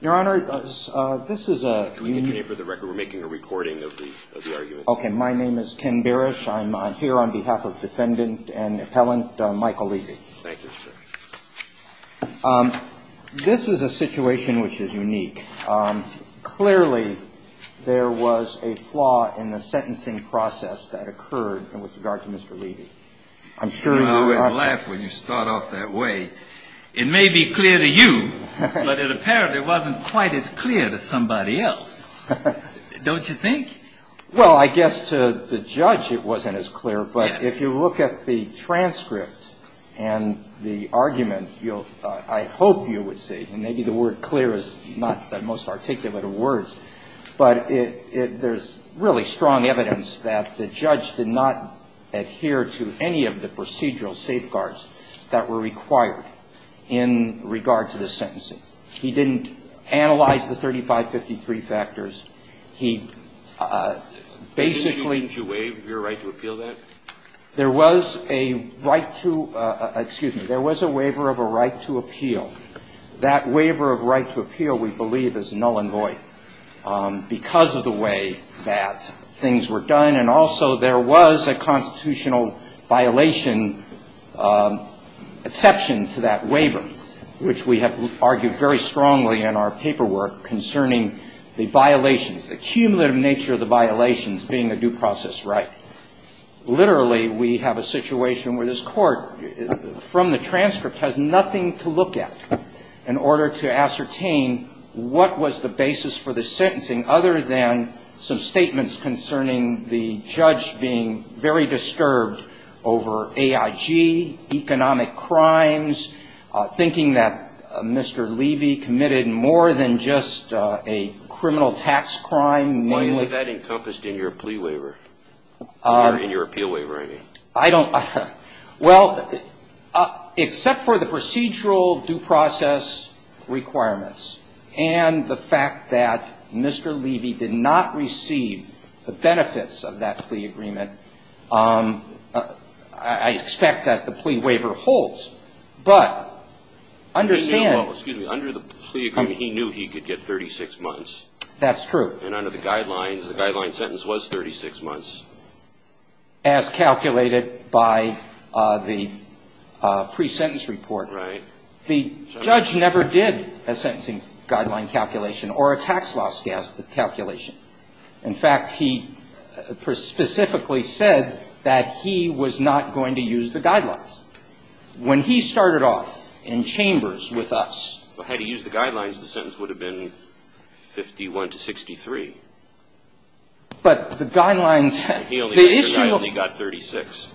Your Honor, this is a... Can we get your name for the record? We're making a recording of the argument. Okay. My name is Ken Barish. I'm here on behalf of Defendant and Appellant Michael Levy. Thank you, sir. This is a situation which is unique. Clearly, there was a flaw in the sentencing process that occurred with regard to Mr. Levy. I'm sure you... I always laugh when you start off that way. It may be clear to you, but it apparently wasn't quite as clear to somebody else. Don't you think? Well, I guess to the judge it wasn't as clear, but if you look at the transcript and the argument, you'll... I hope you would say, and maybe the word clear is not the most articulate of words, but there's really strong evidence that the judge did not adhere to any of the procedural safeguards that were required in regard to the sentencing. He didn't analyze the 3553 factors. He basically... Didn't you waive your right to appeal that? There was a right to... Excuse me. There was a waiver of a right to appeal. That waiver of right to appeal, we believe, is null and void because of the way that things were done. And also there was a constitutional violation exception to that waiver, which we have argued very strongly in our paperwork concerning the violations, the cumulative nature of the violations being a due process right. Literally, we have a situation where this court, from the transcript, has nothing to look at in order to ascertain what was the basis for the sentencing other than some statements concerning the judge being very disturbed over AIG, economic crimes, thinking that Mr. Levy committed more than just a criminal tax crime. Why is that encompassed in your plea waiver? In your appeal waiver, I mean. I don't... Well, except for the procedural due process requirements and the fact that Mr. Levy did not receive the benefits of that plea agreement, I expect that the plea waiver holds. But understand... Well, excuse me. Under the plea agreement, he knew he could get 36 months. That's true. And under the guidelines, the guideline sentence was 36 months. As calculated by the pre-sentence report. Right. The judge never did a sentencing guideline calculation or a tax law calculation. In fact, he specifically said that he was not going to use the guidelines. When he started off in chambers with us... Had he used the guidelines, the sentence would have been 51 to 63. But the guidelines... He only got 36.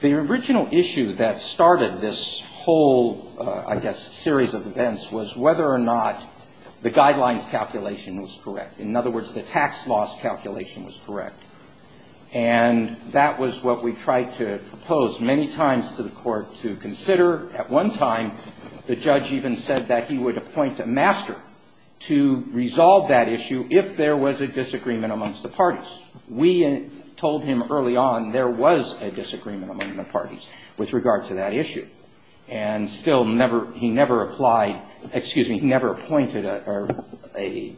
The original issue that started this whole, I guess, series of events was whether or not the guidelines calculation was correct. In other words, the tax laws calculation was correct. And that was what we tried to propose many times to the court to consider. At one time, the judge even said that he would appoint a master to resolve that issue if there was a disagreement amongst the parties. We told him early on there was a disagreement among the parties with regard to that issue. And still he never applied, excuse me, he never appointed a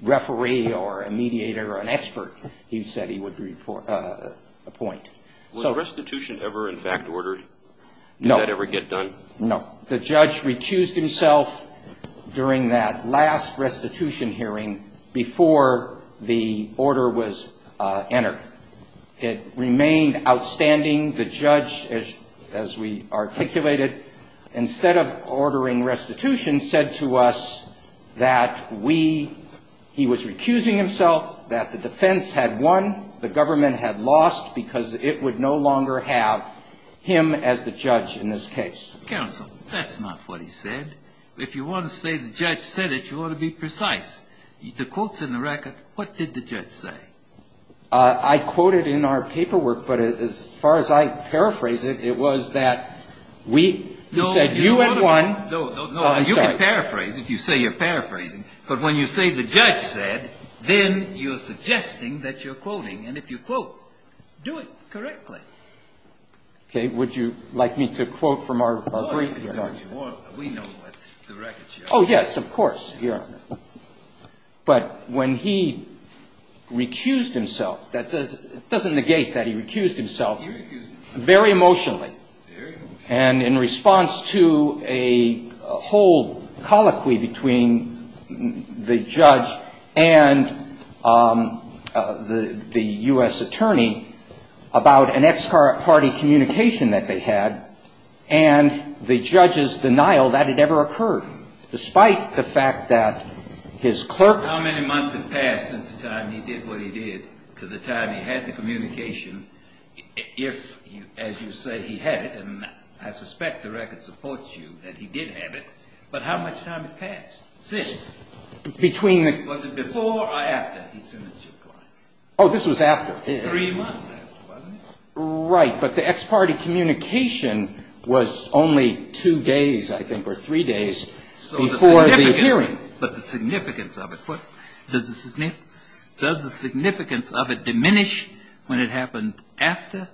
referee or a mediator or an expert he said he would appoint. Was restitution ever in fact ordered? No. Did that ever get done? No. The judge recused himself during that last restitution hearing before the order was entered. It remained outstanding. The judge, as we articulated, instead of ordering restitution, said to us that we he was recusing himself, that the defense had won, the government had lost because it would no longer have him as the judge in this case. Counsel, that's not what he said. If you want to say the judge said it, you ought to be precise. The quotes in the record, what did the judge say? I quoted in our paperwork, but as far as I paraphrase it, it was that we said you had won. You can paraphrase if you say you're paraphrasing. But when you say the judge said, then you're suggesting that you're quoting. And if you quote, do it correctly. Okay. Would you like me to quote from our brief? We know what the records show. Oh, yes, of course. Here. But when he recused himself, that doesn't negate that he recused himself very emotionally. Very emotionally. And in response to a whole colloquy between the judge and the U.S. attorney about an ex-party communication that they had, and the judge's denial that it ever occurred, despite the fact that his clerk How many months had passed since the time he did what he did to the time he had the communication, if, as you say, he had it, and I suspect the record supports you that he did have it, but how much time had passed since? Between the Was it before or after he sent it to you? Oh, this was after. Three months after, wasn't it? Right, but the ex-party communication was only two days, I think, or three days before the hearing. But the significance of it, does the significance of it diminish when it happened after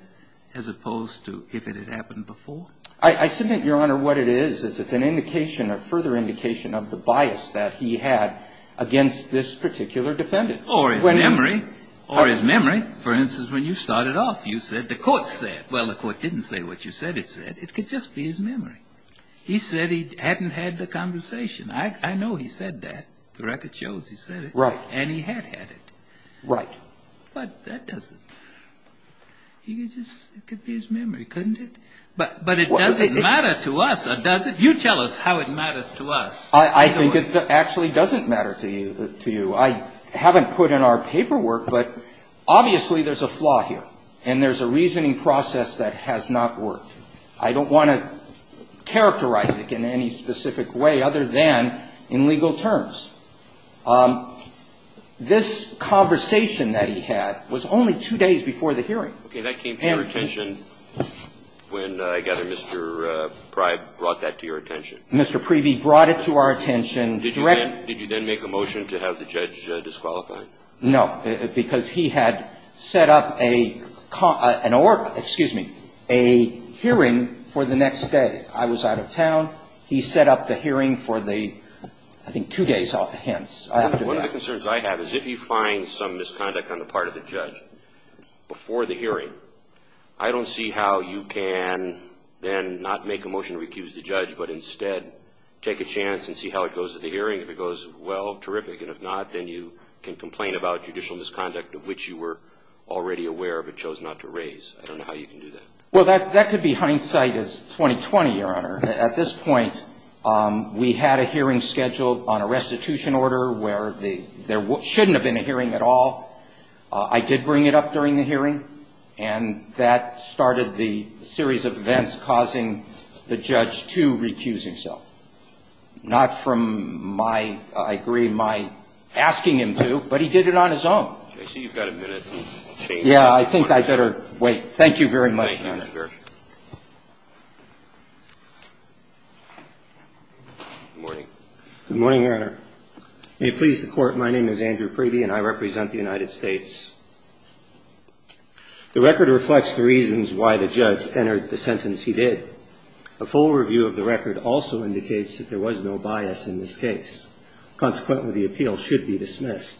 as opposed to if it had happened before? I submit, Your Honor, what it is, is it's an indication or further indication of the bias that he had against this particular defendant. Or his memory. Or his memory. For instance, when you started off, you said the court said. Well, the court didn't say what you said it said. It could just be his memory. He said he hadn't had the conversation. I know he said that. The record shows he said it. Right. And he had had it. Right. But that doesn't. It could be his memory, couldn't it? But it doesn't matter to us, does it? You tell us how it matters to us. I think it actually doesn't matter to you. I haven't put in our paperwork, but obviously there's a flaw here. And there's a reasoning process that has not worked. I don't want to characterize it in any specific way other than in legal terms. This conversation that he had was only two days before the hearing. Okay. That came to your attention when I gather Mr. Pry brought that to your attention. Mr. Preeby brought it to our attention. Did you then make a motion to have the judge disqualify? No, because he had set up a hearing for the next day. I was out of town. He set up the hearing for the, I think, two days hence. One of the concerns I have is if you find some misconduct on the part of the judge before the hearing, I don't see how you can then not make a motion to recuse the judge, but instead take a chance and see how it goes at the hearing. If it goes well, terrific. And if not, then you can complain about judicial misconduct of which you were already aware but chose not to raise. I don't know how you can do that. Well, that could be hindsight as 2020, Your Honor. At this point, we had a hearing scheduled on a restitution order where there shouldn't have been a hearing at all. I did bring it up during the hearing, and that started the series of events causing the judge to recuse himself. The judge did not recuse himself. He did not recuse himself. He did not recuse himself. Not from my, I agree, my asking him to, but he did it on his own. I see you've got a minute. Yeah, I think I better wait. Thank you very much, Your Honor. Good morning. Good morning, Your Honor. May it please the Court, my name is Andrew Priebe, and I represent the United States. The record reflects the reasons why the judge entered the sentence he did. A full review of the record also indicates that there was no bias in this case. Consequently, the appeal should be dismissed.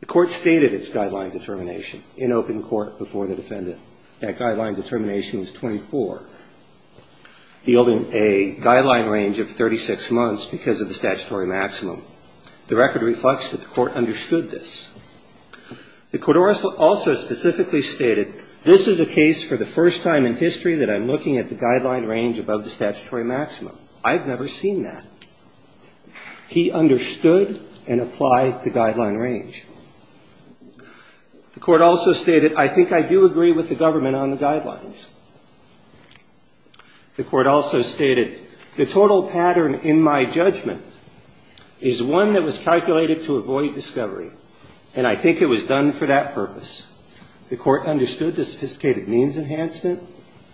The Court stated its guideline determination in open court before the defendant. That guideline determination is 24. The only guideline range of 36 months because of the statutory maximum. The record reflects that the Court understood this. The court also specifically stated, this is a case for the first time in history that I'm looking at the guideline range above the statutory maximum. I've never seen that. He understood and applied the guideline range. The Court also stated, I think I do agree with the government on the guidelines. The Court also stated, the total pattern in my judgment is one that was calculated to avoid discovery, and I think it was done for that purpose. The Court understood the sophisticated means enhancement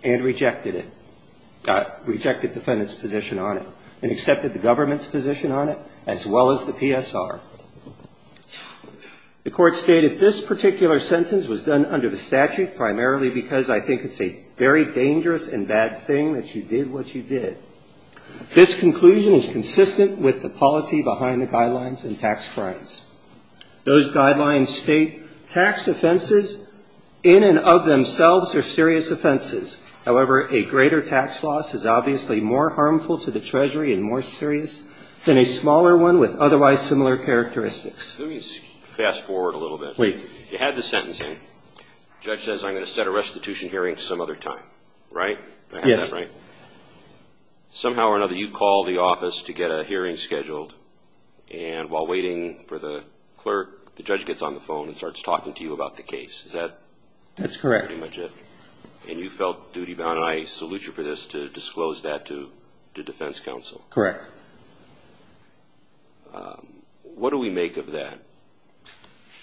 and rejected it, rejected the defendant's position on it, and accepted the government's position on it as well as the PSR. The Court stated this particular sentence was done under the statute primarily because I think it's a very dangerous and bad thing that you did what you did. This conclusion is consistent with the policy behind the guidelines and tax crimes. Those guidelines state tax offenses in and of themselves are serious offenses. However, a greater tax loss is obviously more harmful to the Treasury and more serious than a smaller one with otherwise similar characteristics. Let me fast forward a little bit. Please. You had the sentencing. The judge says, I'm going to set a restitution hearing some other time. Right? Yes. Somehow or another, you call the office to get a hearing scheduled, and while waiting for the clerk, the judge gets on the phone and starts talking to you about the case. Is that pretty much it? That's correct. And you felt duty-bound, and I salute you for this, to disclose that to defense counsel. Correct. What do we make of that?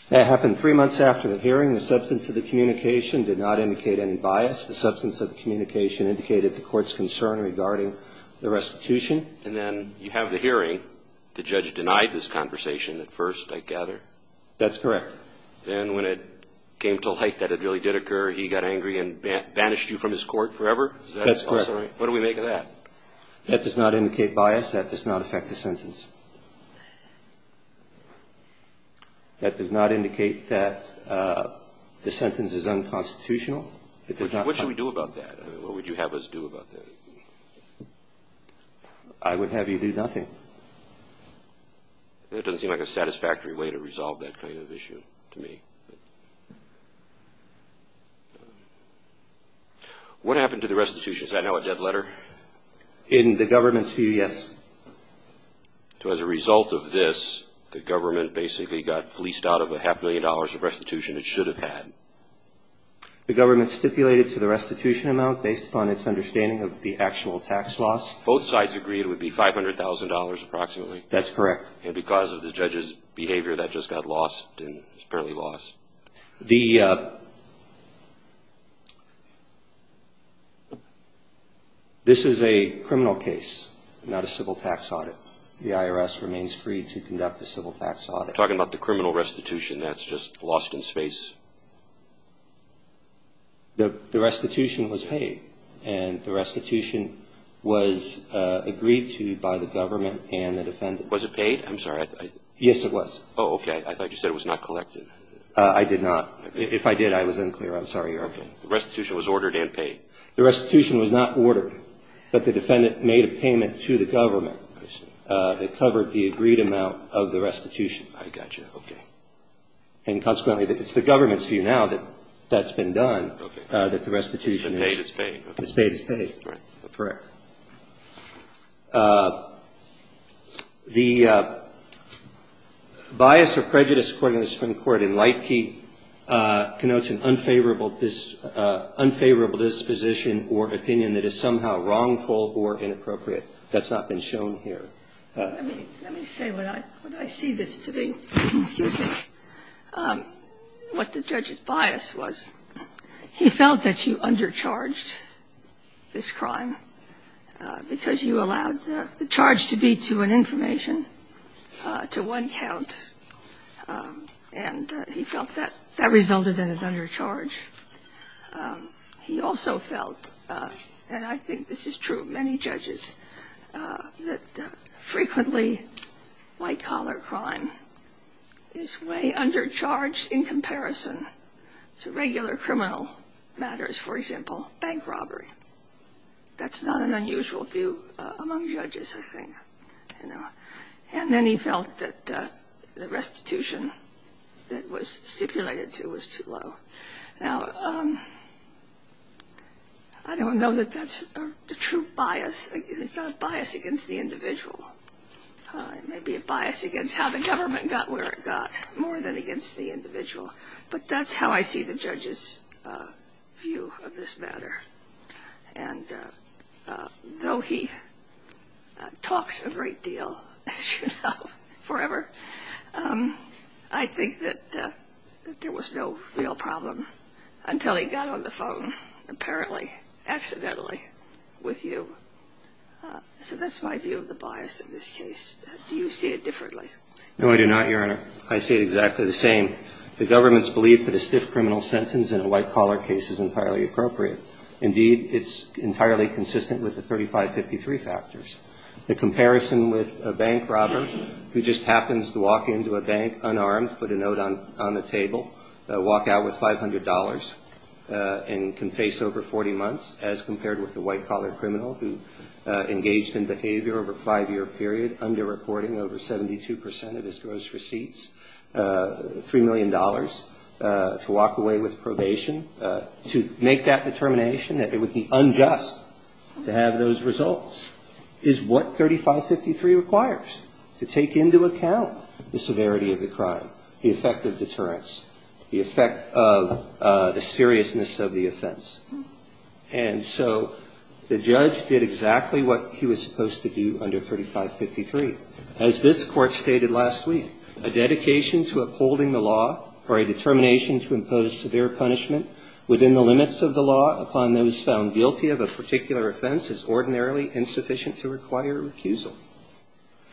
That happened three months after the hearing. The substance of the communication did not indicate any bias. The substance of the communication indicated the Court's concern regarding the restitution. And then you have the hearing. The judge denied this conversation at first, I gather. That's correct. Then when it came to light that it really did occur, he got angry and banished you from his court forever? That's correct. What do we make of that? That does not indicate bias. That does not affect the sentence. That does not indicate that the sentence is unconstitutional. What should we do about that? What would you have us do about that? I would have you do nothing. That doesn't seem like a satisfactory way to resolve that kind of issue to me. What happened to the restitution? Is that now a dead letter? In the government's view, yes. So as a result of this, the government basically got fleeced out of a half-million dollars of restitution it should have had? The government stipulated to the restitution amount based upon its understanding of the actual tax loss. Both sides agreed it would be $500,000 approximately? That's correct. And because of the judge's behavior, that just got lost, apparently lost. This is a criminal case, not a civil tax audit. The IRS remains free to conduct a civil tax audit. You're talking about the criminal restitution. That's just lost in space. The restitution was paid, and the restitution was agreed to by the government and the defendant. Was it paid? I'm sorry. Yes, it was. Oh, okay. I thought you said it was not collected. I did not. If I did, I was unclear. I'm sorry, Your Honor. The restitution was ordered and paid. The restitution was not ordered, but the defendant made a payment to the government that covered the agreed amount of the restitution. I got you. Okay. And consequently, it's the government's view now that that's been done, that the restitution is paid. It's paid. It's paid. Correct. The bias or prejudice according to the Supreme Court in Lightkey connotes an unfavorable disposition or opinion that is somehow wrongful or inappropriate. That's not been shown here. Let me say what I see this to be. Excuse me. What the judge's bias was, he felt that you undercharged this crime. Because you allowed the charge to be to an information, to one count, and he felt that that resulted in an undercharge. He also felt, and I think this is true of many judges, that frequently white-collar crime is way undercharged in comparison to regular criminal matters. For example, bank robbery. That's not an unusual view among judges, I think. And then he felt that the restitution that was stipulated to was too low. Now, I don't know that that's a true bias. It's not a bias against the individual. It may be a bias against how the government got where it got more than against the individual. But that's how I see the judge's view of this matter. And though he talks a great deal, as you know, forever, I think that there was no real problem until he got on the phone, apparently, accidentally with you. So that's my view of the bias in this case. Do you see it differently? No, I do not, Your Honor. I see it exactly the same. The government's belief that a stiff criminal sentence in a white-collar case is entirely appropriate. Indeed, it's entirely consistent with the 3553 factors. The comparison with a bank robber who just happens to walk into a bank unarmed, put a note on the table, walk out with $500, and can face over 40 months, as compared with a white-collar criminal who engaged in behavior over a five-year period, underreporting over 72 percent of his gross receipts, $3 million, to walk away with probation. To make that determination that it would be unjust to have those results is what 3553 requires, to take into account the severity of the crime, the effect of deterrence, the effect of the seriousness of the offense. And so the judge did exactly what he was supposed to do under 3553. As this Court stated last week, a dedication to upholding the law or a determination to impose severe punishment within the limits of the law upon those found guilty of a particular offense is ordinarily insufficient to require a recusal.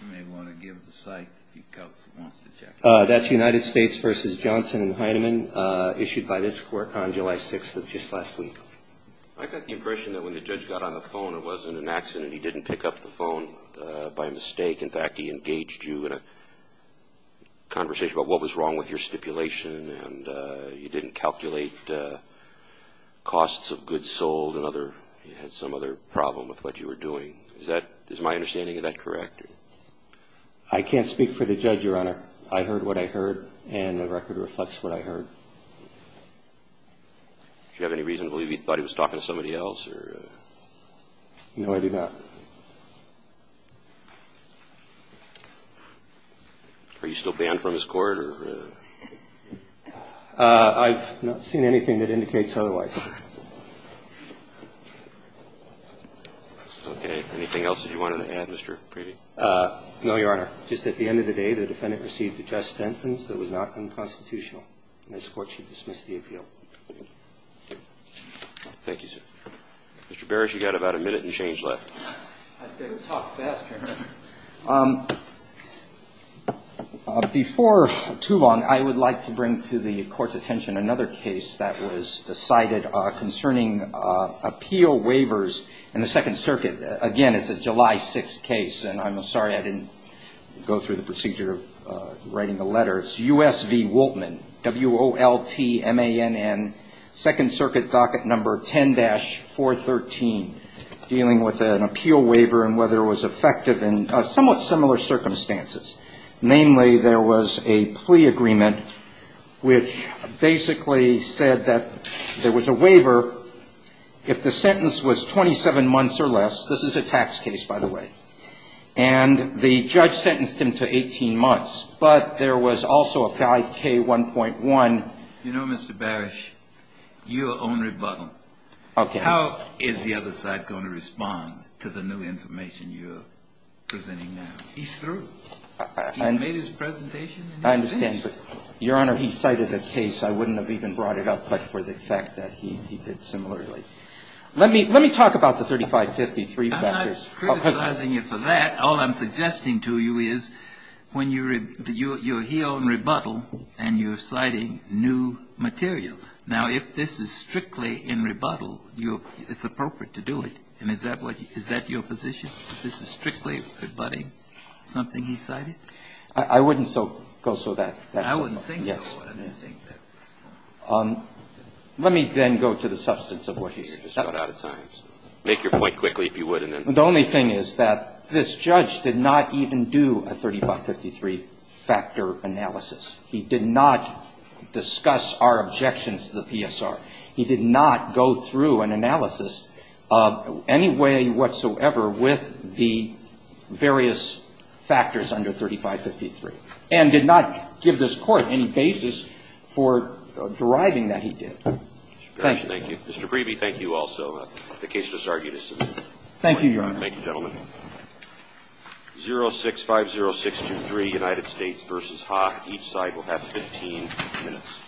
You may want to give the cite if the counsel wants to check it. That's United States v. Johnson and Heinemann, issued by this Court on July 6th of just last week. I got the impression that when the judge got on the phone, it wasn't an accident. He didn't pick up the phone by mistake. In fact, he engaged you in a conversation about what was wrong with your stipulation, and you didn't calculate costs of goods sold, and you had some other problem with what you were doing. Is my understanding of that correct? I can't speak for the judge, Your Honor. I heard what I heard, and the record reflects what I heard. Do you have any reason to believe he thought he was talking to somebody else? No, I do not. Are you still banned from this Court? I've not seen anything that indicates otherwise. Okay. Anything else that you wanted to add, Mr. Preeby? No, Your Honor. Just at the end of the day, the defendant received a just sentence that was not unconstitutional, and this Court should dismiss the appeal. Thank you, sir. Mr. Barrish, you've got about a minute and change left. I'd better talk faster. Before too long, I would like to bring to the Court's attention another case that was decided concerning appeal waivers in the Second Circuit. Again, it's a July 6th case, and I'm sorry I didn't go through the procedure of writing the letter. It's U.S. v. Woltman, W-O-L-T-M-A-N-N, Second Circuit Docket Number 10-413, dealing with an appeal waiver and whether it was effective in somewhat similar circumstances. Namely, there was a plea agreement which basically said that there was a waiver if the sentence was 27 months or less. This is a tax case, by the way. And the judge sentenced him to 18 months, but there was also a 5K1.1. You know, Mr. Barrish, your own rebuttal. Okay. How is the other side going to respond to the new information you're presenting now? He's through. He made his presentation and he's finished. I understand, but, Your Honor, he cited a case. I wouldn't have even brought it up, but for the fact that he did similarly. Let me talk about the 3553 factors. I'm not criticizing you for that. All I'm suggesting to you is when you're here on rebuttal and you're citing new material. Now, if this is strictly in rebuttal, it's appropriate to do it. And is that what you – is that your position? If this is strictly rebutting something he cited? I wouldn't so – go so that. I wouldn't think so. Yes. I wouldn't think that. Let me then go to the substance of what he said. You're just running out of time. Make your point quickly, if you would, and then. The only thing is that this judge did not even do a 3553 factor analysis. He did not discuss our objections to the PSR. He did not go through an analysis of any way whatsoever with the various factors under 3553 and did not give this Court any basis for deriving that he did. Thank you. Mr. Parrish, thank you. Mr. Breebe, thank you also. The case disargued is submitted. Thank you, Your Honor. Thank you, gentlemen. 0650623, United States v. Hawk. Each side will have 15 minutes.